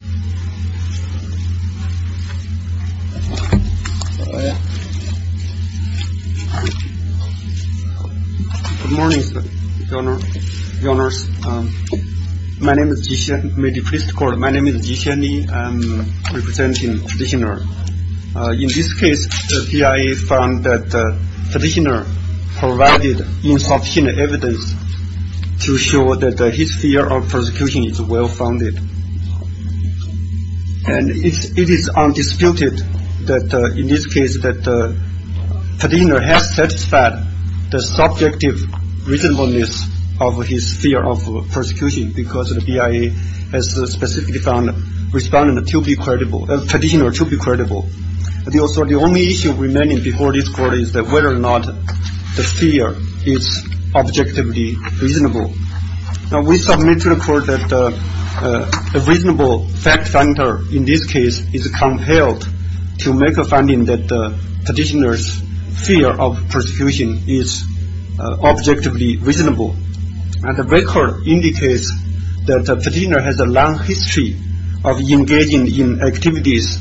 Good morning, your honors. My name is Jixian Li. I'm representing the petitioner. In this case, the PIA found that the petitioner provided insufficient evidence to show that his fear of persecution is well-founded. And it is undisputed that in this case that the petitioner has satisfied the subjective reasonableness of his fear of persecution because the PIA has specifically found the petitioner to be credible. The only issue remaining before this court is whether or not the fear is objectively reasonable. Now, we submit to the court that a reasonable fact-finder in this case is compelled to make a finding that the petitioner's fear of persecution is objectively reasonable. And the record indicates that the petitioner has a long history of engaging in activities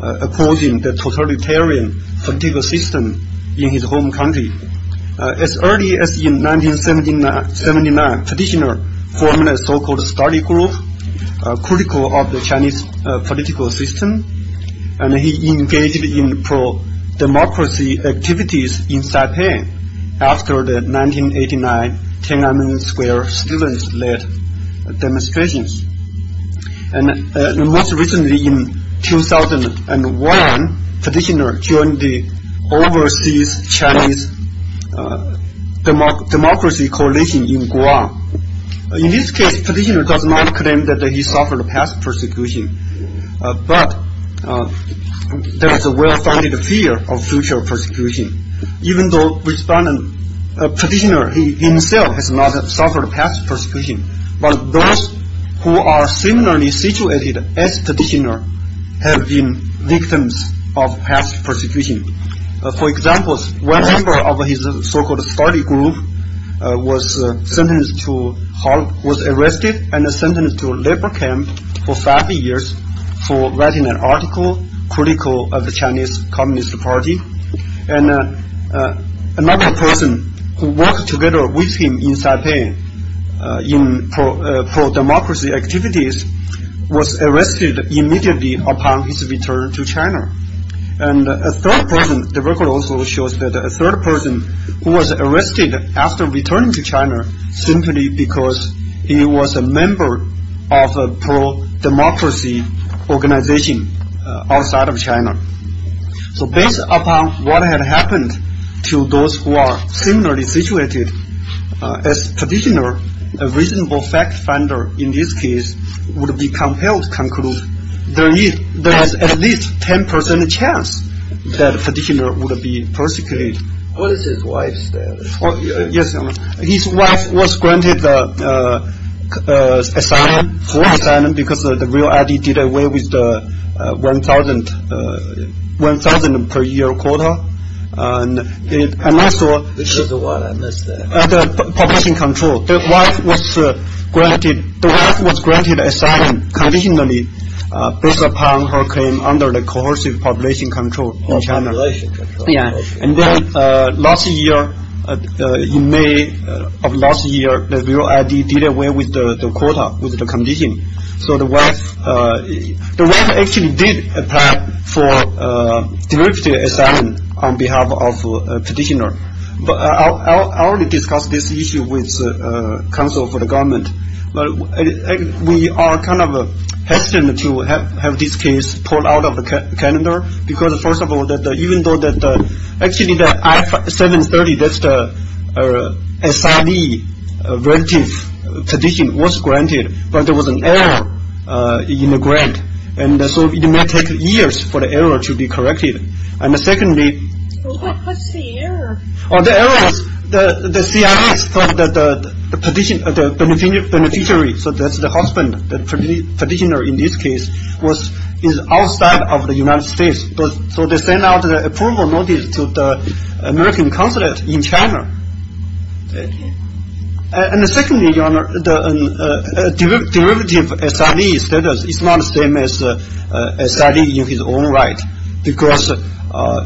opposing the totalitarian political system in his home country. As early as in 1979, the petitioner formed a so-called study group critical of the Chinese political system, and he engaged in pro-democracy activities in Saipan after the 1989 Tiananmen Square student-led demonstrations. And most recently, in 2001, the petitioner joined the overseas Chinese Democracy Coalition in Guam. In this case, the petitioner does not claim that he suffered past persecution, but there is a well-founded fear of future persecution. Even though the petitioner himself has not suffered past persecution, but those who are similarly situated as the petitioner have been victims of past persecution. For example, one member of his so-called study group was arrested and sentenced to labor camp for five years for writing an article critical of the Chinese pro-democracy activities, was arrested immediately upon his return to China. And a third person, the record also shows that a third person was arrested after returning to China simply because he was a member of a pro-democracy organization outside of China. So based upon what had happened to those who are similarly situated, as petitioner, a reasonable fact finder in this case, would be compelled to conclude there is at least 10% chance that the petitioner would be persecuted. What is his wife's status? Yes, his wife was granted asylum, full asylum, because the real ID did away with the 1,000 per year quota, and also the population control. The wife was granted asylum conditionally based upon her claim under the coercive population control in China. And then last year, in May of last year, the real ID did away with the quota, with the condition. So the wife actually did apply for derivative asylum on behalf of petitioner. I already discussed this issue with the council for the government. We are kind of hesitant to have this case pulled out of the calendar, because first of all, even though actually the I-730, that's the CID relative petition was granted, but there was an error in the grant. And so it may take years for the error to be corrected. And secondly... What's the error? The error was the CID thought that the petitioner, the beneficiary, so that's the husband, the petitioner in this case, was outside of the United States. So they sent out an approval notice to the American consulate in China. And secondly, your honor, the derivative SID status is not the same as SID in his own right. Because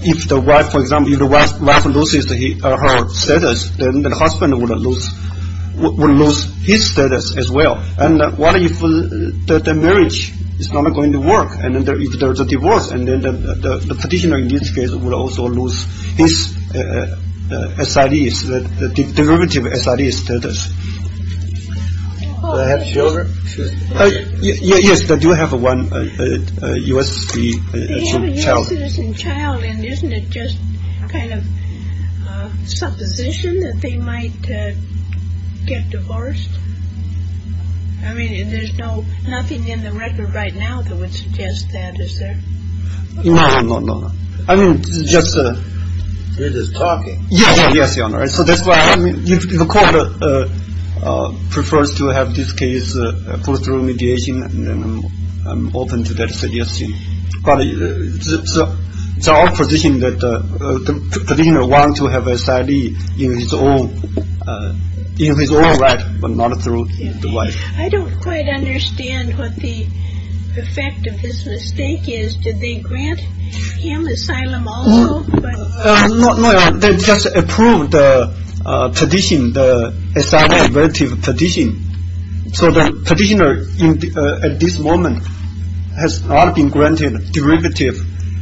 if the wife, for example, if the wife loses her status, then the husband will lose his status as well. And what if the marriage is not going to work? And if there's a divorce, then the petitioner in this case will also lose his SID, the derivative SID status. Do they have children? Yes, they do have one U.S. citizen child. They have a U.S. citizen child, and isn't it just kind of a supposition that they might get divorced? I mean, there's nothing in the record right now that would suggest that, is there? No, no, no, no. I mean, just... They're just talking. Yes, yes, your honor. So that's why the court prefers to have this case put through mediation, and I'm open to that suggestion. But it's our position that the petitioner wants to have SID in his own right, but not through the wife. I don't quite understand what the effect of this mistake is. Did they grant him asylum also? No, they just approved the petition, the SID relative petition. So the petitioner at this moment has not been granted derivative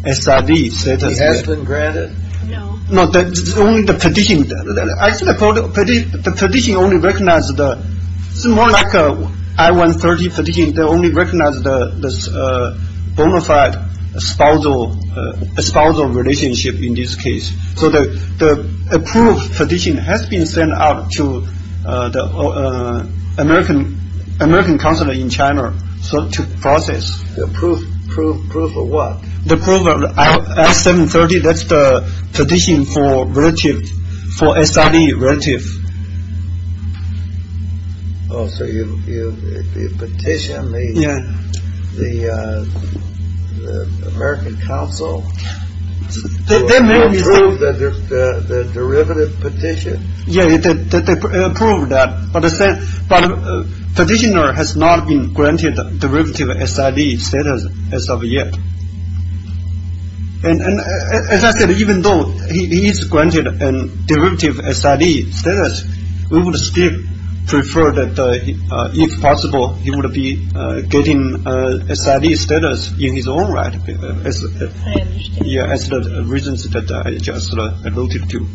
SID status yet. He has been granted? No. No, it's only the petitioner. The petitioner only recognized, it's more like an I-130 petition, they only recognized the bona fide spousal relationship in this case. So the approved petition has been sent out to the American consulate in China to process. Approved for what? The approved I-730, that's the petition for relative, for SID relative. Oh, so you petitioned the American consul to approve the derivative petition? Yeah, they approved that, but the petitioner has not been granted derivative SID status as of yet. And as I said, even though he is granted derivative SID status, we would still prefer that, if possible, he would be getting SID status in his own right, as the reasons that I just alluded to.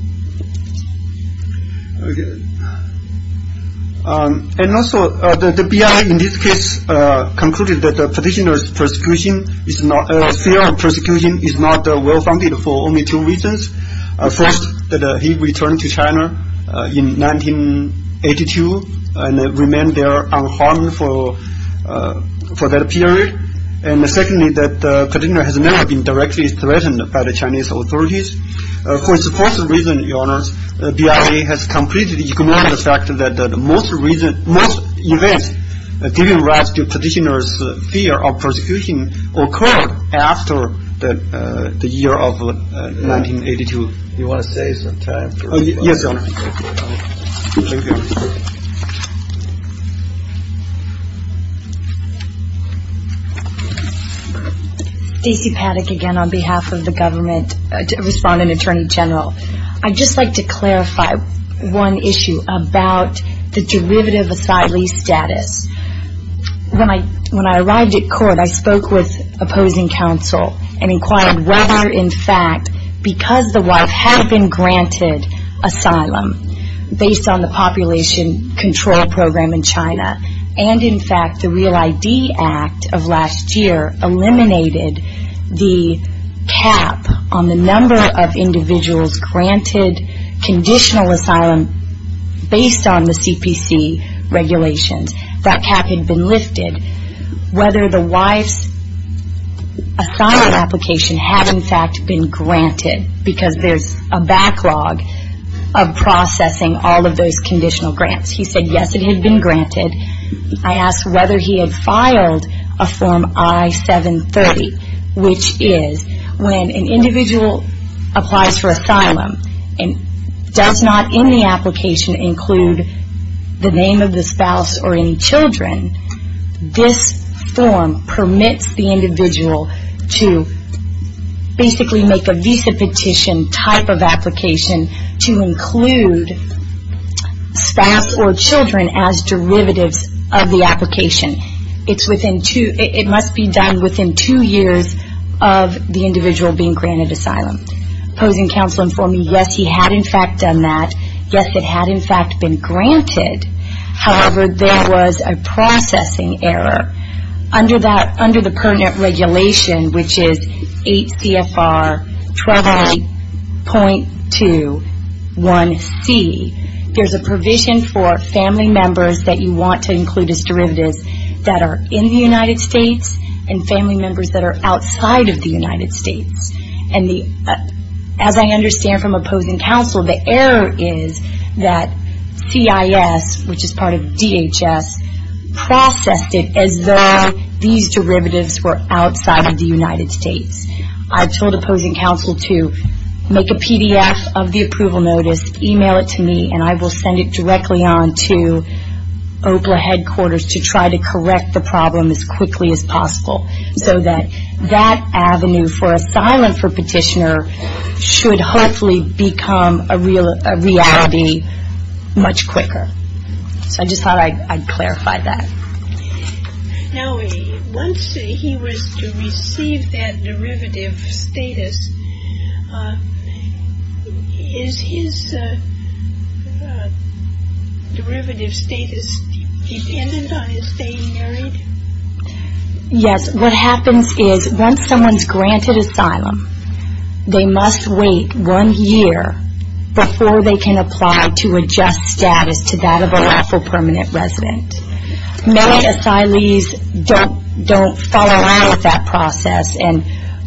And also, the BIA in this case concluded that the petitioner's fear of persecution is not well-founded for only two reasons. First, that he returned to China in 1982 and remained there unharmed for that period. And secondly, that the petitioner has never been directly threatened by the Chinese authorities. For this first reason, Your Honor, the BIA has completely ignored the fact that most events giving rise to petitioner's fear of persecution occurred after the year of 1982. Do you want to say something? Yes, Your Honor. Thank you. Stacey Paddock again on behalf of the Government Respondent Attorney General. I'd just like to clarify one issue about the derivative asylee status. When I arrived at court, I spoke with opposing counsel and inquired whether, in fact, because the wife had been granted asylum based on the population control program in China, and in fact, the Real ID Act of last year eliminated the cap on the number of individuals granted conditional asylum based on the CPC regulations. That cap had been lifted. Whether the wife's asylum application had, in fact, been granted, because there's a backlog of processing all of those conditional grants. He said, yes, it had been granted. I asked whether he had filed a Form I-730, which is when an individual applies for asylum and does not in the application include the basically make a visa petition type of application to include staff or children as derivatives of the application. It must be done within two years of the individual being granted asylum. Opposing counsel informed me, yes, he had, in fact, done that. Yes, it had, in fact, been granted. However, there was a processing error. Under the pertinent regulation, which is 8 CFR 128.21C, there's a provision for family members that you want to include as derivatives that are in the United States and family members that are outside of the United States. As I understand from opposing counsel, the error is that CIS, which is part of the United States. I told opposing counsel to make a PDF of the approval notice, email it to me, and I will send it directly on to OPLA headquarters to try to correct the problem as quickly as possible so that that avenue for asylum for petitioner should hopefully become a reality much quicker. So I just thought I'd clarify that. Now, once he was to receive that derivative status, is his derivative status dependent on his staying married? Yes. What happens is once someone's granted asylum, they must wait one year before they can apply to adjust status to that of a lawful permanent resident. Many asylees don't follow along with that process and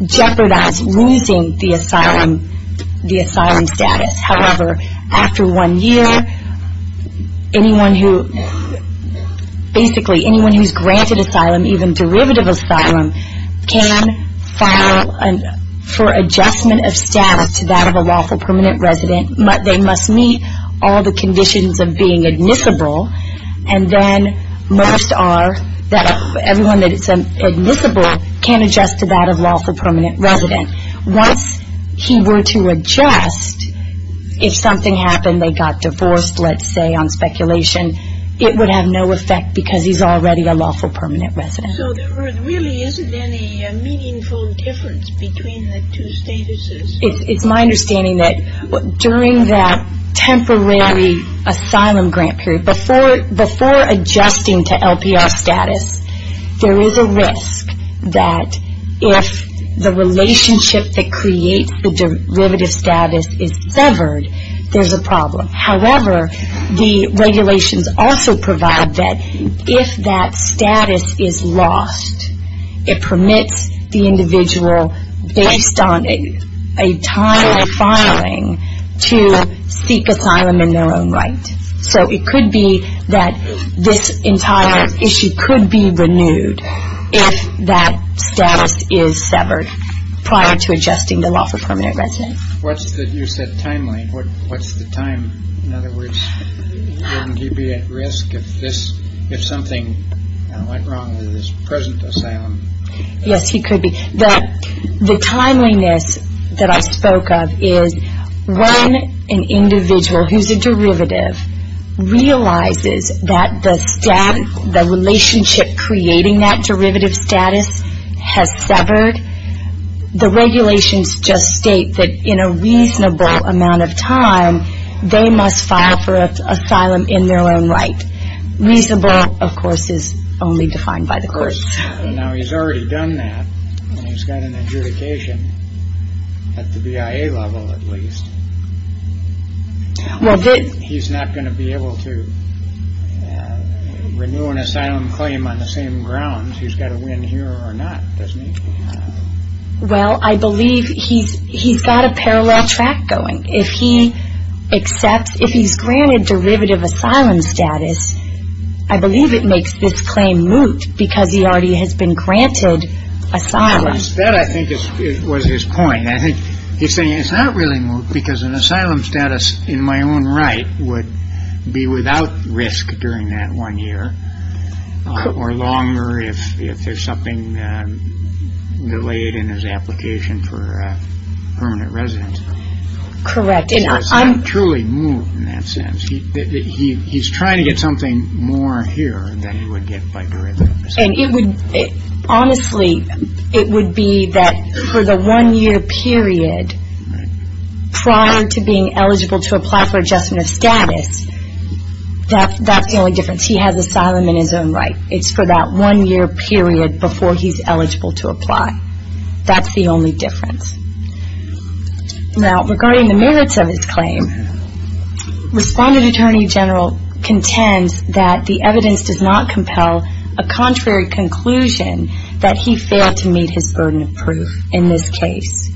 jeopardize losing the asylum status. However, after one year, anyone who, basically anyone who's granted asylum, even derivative asylum, can file for all the conditions of being admissible, and then most are, everyone that is admissible can adjust to that of lawful permanent resident. Once he were to adjust, if something happened, they got divorced, let's say, on speculation, it would have no effect because he's already a lawful permanent resident. So there really isn't any meaningful difference between the two statuses? It's my understanding that during that temporary asylum grant period, before adjusting to LPR status, there is a risk that if the relationship that creates the derivative status is severed, there's a problem. However, the regulations also provide that if that status is lost, it permits the individual, based on a timely filing, to seek asylum in their own right. So it could be that this entire issue could be renewed if that status is severed prior to adjusting to lawful permanent resident. What's the, you said timely, what's the time, in other words, wouldn't he be at risk if something went wrong with his present asylum? Yes, he could be. The timeliness that I spoke of is when an individual who's a derivative realizes that the relationship creating that derivative status has severed, the regulations just state that in a reasonable amount of time, they must file for asylum in their own right. Reasonable, of course, is only defined by the courts. Now, he's already done that, and he's got an adjudication at the BIA level, at least. He's not going to be able to renew an asylum claim on the same grounds. He's got to win here or not, doesn't he? Well, I believe he's got a parallel track going. If he accepts, if he's granted derivative asylum status, I believe it makes this claim moot because he already has been granted asylum. That, I think, was his point. I think he's saying it's not really moot because an asylum status in my own right would be without risk during that one year or longer if there's something delayed in his application for permanent residence. Correct. It's truly moot in that sense. He's trying to get something more here than he would get by derivative status. And it would, honestly, it would be that for the one year period prior to being eligible to apply for adjustment of status, that's the only difference. He has asylum in his own right. It's for that one year period before he's eligible to apply. That's the only difference. Now, regarding the merits of his claim, Respondent Attorney General contends that the evidence does not compel a contrary conclusion that he failed to meet his burden of proof in this case.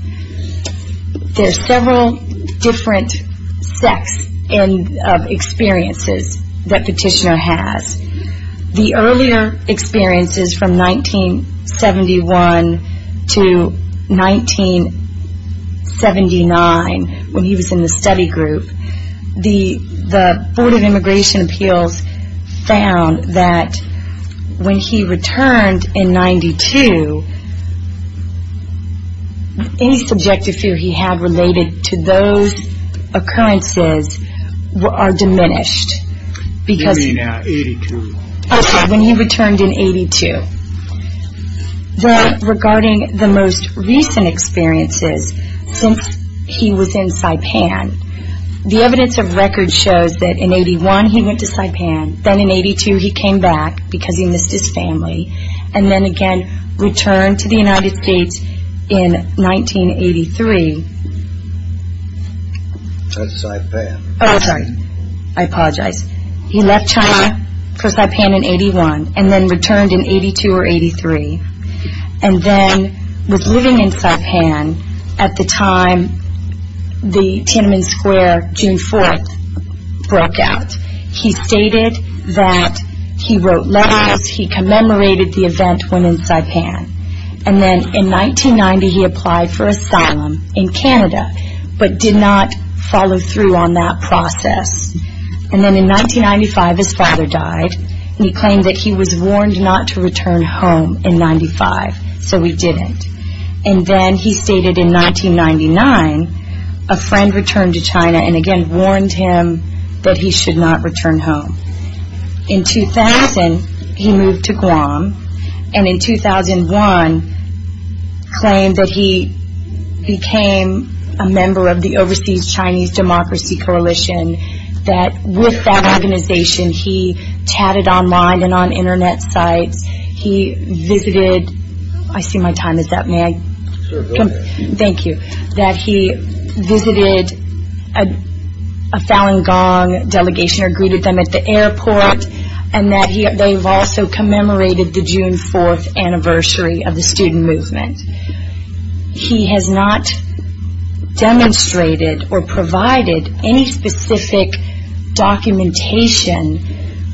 There's several different sets of experiences that Petitioner has. The earlier experiences from 1971 to 1979, when he was in the study group, the Board of Immigration Appeals found that when he returned in 92, any subjective fear he had related to those occurrences are diminished because You mean in 82? Okay, when he returned in 82. Then, regarding the most recent experiences, since he was in Saipan, the evidence of record shows that in 81 he went to Saipan, then in 82 he came back because he missed his family, and then again returned to the United States in 1983. That's Saipan. Oh, sorry. I apologize. He left China for Saipan in 81, and then returned in 82 or 83, and then was living in Saipan at the time the Tiananmen Square, June 4th, broke out. He stated that he wrote letters, he commemorated the event when in Saipan, and then in 1990 he applied for asylum in Canada, but did not follow through on that process. And then in 1995 his father died, and he claimed that he was warned not to return home in 95, so he didn't. And then he stated in 1999 a friend returned to China and again warned him that he should not return home. In 2000 he moved to Guam, and in 2001 claimed that he became a member of the Overseas Chinese Democracy Coalition, that with that organization he chatted online and on internet sites, he visited, I see my time is up, may I? Thank you. That he visited a Falun Gong delegation or greeted them at the airport, and that they've also commemorated the June 4th anniversary of the student movement. He has not demonstrated or provided any specific documentation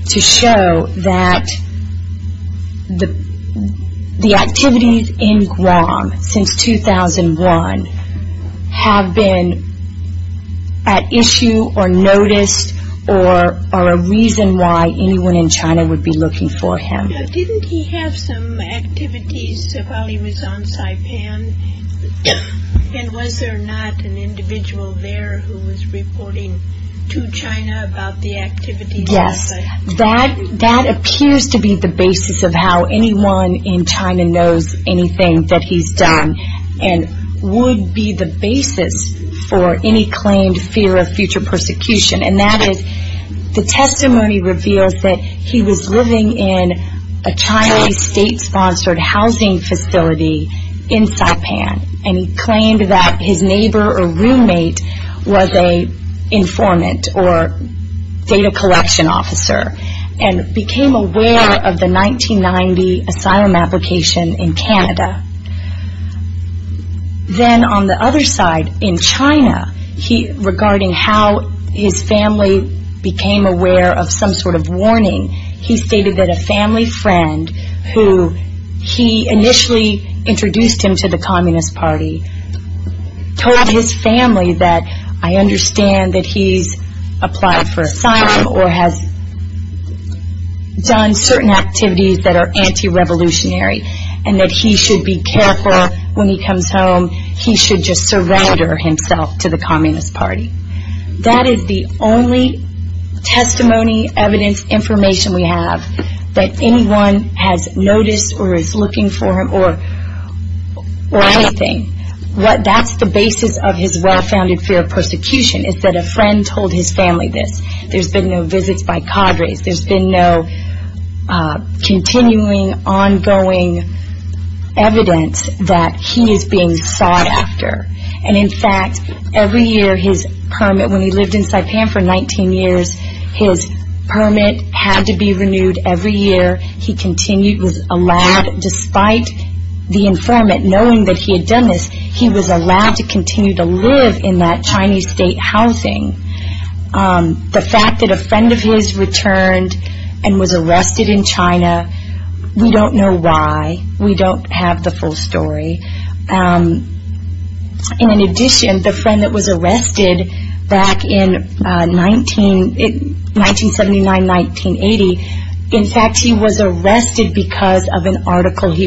to show that the activities in Guam since 2001 have been at issue or noticed or are a reason why anyone in China would be looking for him. Didn't he have some activities while he was on Saipan, and was there not an individual there who was reporting to China about the activities? Yes, that appears to be the basis of how anyone in China knows anything that he's done, and would be the basis for any claimed fear of future persecution, and that is the testimony reveals that he was living in a Chinese state-sponsored housing facility in Saipan, and he claimed that his neighbor or roommate was an informant or data collection officer, and became aware of the 1990 asylum application in Canada. Then on the other side, in China, regarding how his family became aware of some sort of warning, he stated that a family friend, who he initially introduced him to the Communist Party, told his family that, I understand that he's applied for asylum, or has done certain activities that are anti-revolutionary, and that he should be careful when he comes home, he should just surrender himself to the Communist Party. That is the only testimony, evidence, information we have that anyone has noticed or is looking for him, or anything. That's the basis of his well-founded fear of persecution, is that a friend told his family this. There's been no visits by cadres. There's been no continuing, ongoing evidence that he is being sought after. And in fact, every year his permit, when he lived in Saipan for 19 years, his permit had to be renewed every year. He continued, was allowed, despite the informant knowing that he had done this, he was allowed to continue to live in that Chinese state housing. The fact that a friend of his returned and was arrested in China, we don't know why. We don't have the full story. And in addition, the friend that was arrested back in 1979, 1980, in fact he was arrested in 1982.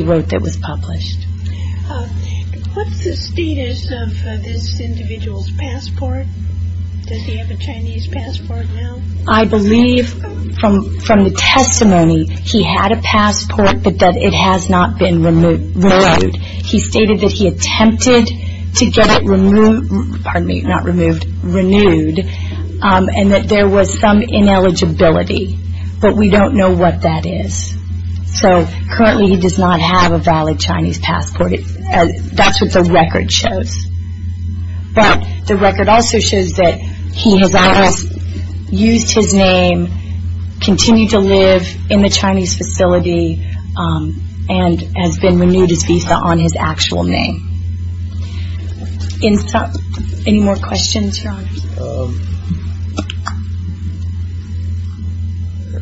I believe from the testimony he had a passport, but that it has not been renewed. He stated that he attempted to get it removed, pardon me, not removed, renewed, and that there was some ineligibility, but we don't know what that is. So currently he does not have a valid Chinese passport. That's what the record shows. But the record also shows that he has used his name, continued to live in the Chinese facility, and has been renewed his visa on his actual name. Any more questions, Your Honor?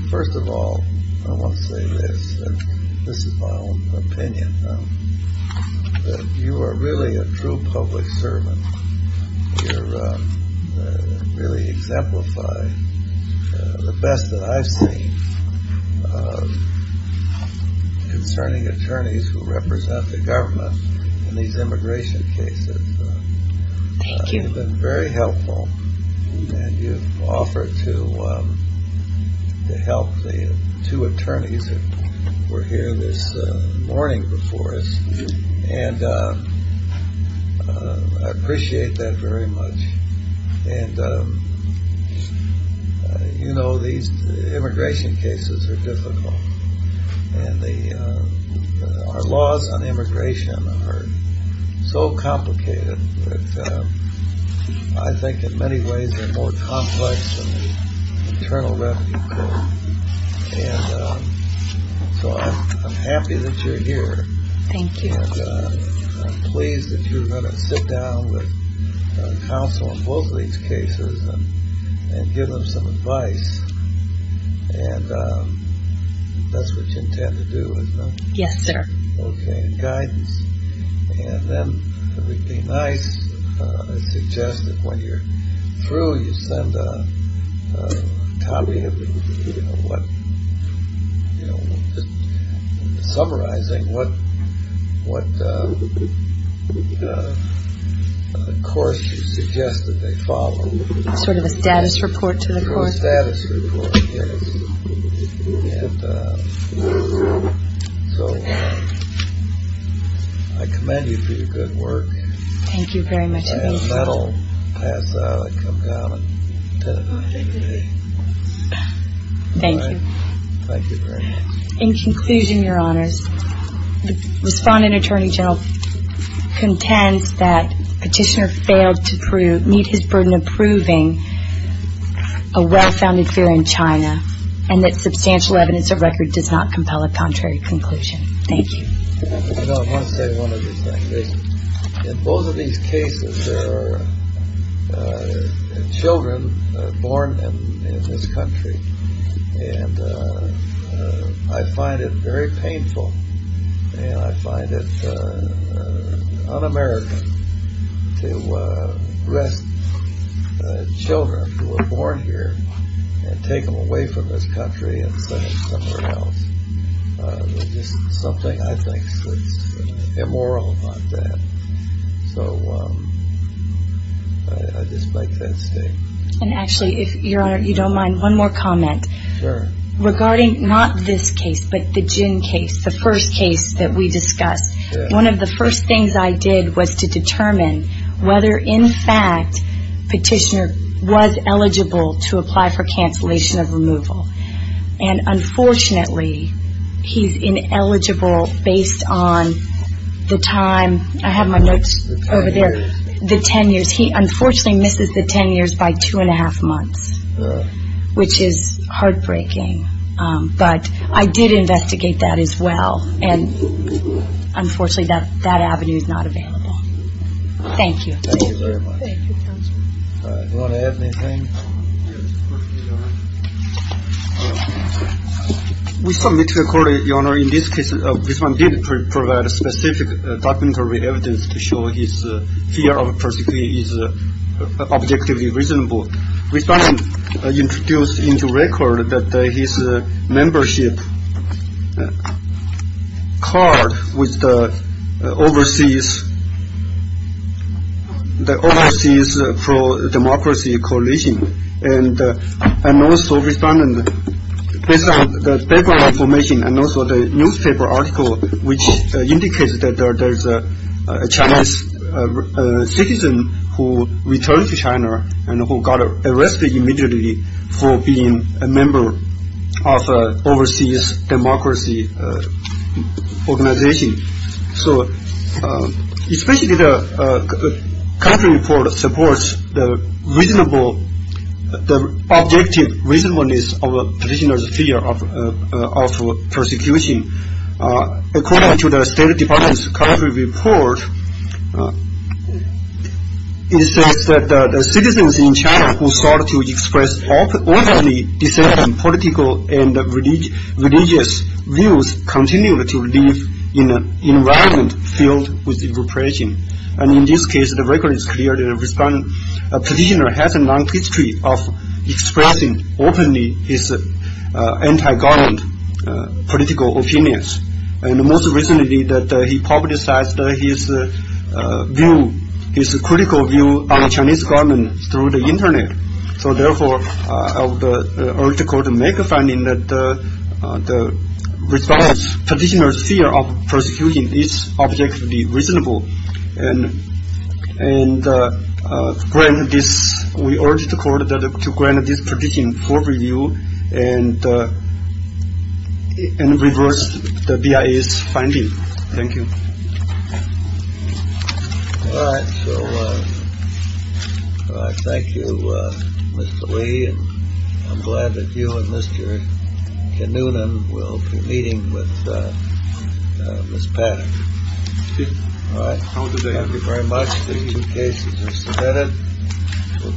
First of all, I want to say this, and this is my own opinion, that you are really a true public servant. You really exemplify the best that I've seen concerning attorneys who represent the government in these immigration cases. You've been very helpful, and you've offered to help the two attorneys who were here this morning before us, and I appreciate that very much. And, you know, these immigration cases are difficult, and our laws on immigration are so complicated that I think in many ways they're more complex than the Internal Revenue Code. And so I'm happy that you're here. Thank you. And I'm pleased that you're going to sit down with counsel on both of these cases and give them some advice. And that's what you intend to do, is it not? Yes, sir. Okay, and guidance. And then it would be nice, I suggest that when you're through, you send a copy of what, you know, just summarizing what course you suggest that they follow. Sort of a status report to the court? Sort of a status report, yes. And so I commend you for your good work. Thank you very much. And that'll pass out. It'll come down to me. Thank you. Thank you very much. In conclusion, Your Honors, the Respondent Attorney General contends that Petitioner failed to meet his burden of proving a well-founded fear in China and that substantial evidence or record does not compel a contrary conclusion. Thank you. You know, I want to say one other thing. In both of these cases, there are children born in this country. And I find it very painful and I find it un-American to arrest children who were born here and take them away from this country and send them somewhere else. There's just something, I think, that's immoral about that. So I just make that statement. And actually, Your Honor, if you don't mind, one more comment. Sure. Regarding not this case, but the Jin case, the first case that we discussed, one of the first things I did was to determine whether, in fact, Petitioner was eligible to apply for cancellation of removal. And unfortunately, he's ineligible based on the time, I have my notes over there, the 10 years. He unfortunately misses the 10 years by two and a half months, which is heartbreaking. But I did investigate that as well. And unfortunately, that avenue is not available. Thank you. Thank you very much. Thank you, Counselor. Do you want to add anything? Yes, of course, Your Honor. We submit to the Court, Your Honor, in this case, this one did provide a specific documentary evidence to show his fear of persecution is objectively reasonable. Respondent introduced into record that his membership card with the overseas, the overseas Chinese government, the Chinese Overseas Pro-Democracy Coalition. And also, Respondent, based on the background information and also the newspaper article, which indicates that there's a Chinese citizen who returned to China and who got arrested immediately for being a member of an overseas democracy organization. So, especially the country report from the Chinese government, the Chinese government supports the reasonable, the objective reasonableness of a prisoner's fear of persecution. According to the State Department's country report, it says that the citizens in China who sought to express openly dissenting political and religious views continue to live in an environment filled with repression. And in this case, the record is clear that Respondent, a prisoner has a long history of expressing openly his anti-government political opinions. And most recently that he publicized his view, his critical view on the Chinese government through the internet. So, therefore, the article make a finding that Respondent's prisoner's fear of persecution is objectively reasonable. And we urge the court to grant this petition for review and reverse the BIA's finding. Thank you. All right. So, I thank you, Mr. Li. I'm glad that you and Mr. Kinnunen will be meeting with Ms. Paddock. All right. Thank you very much. The two cases are submitted.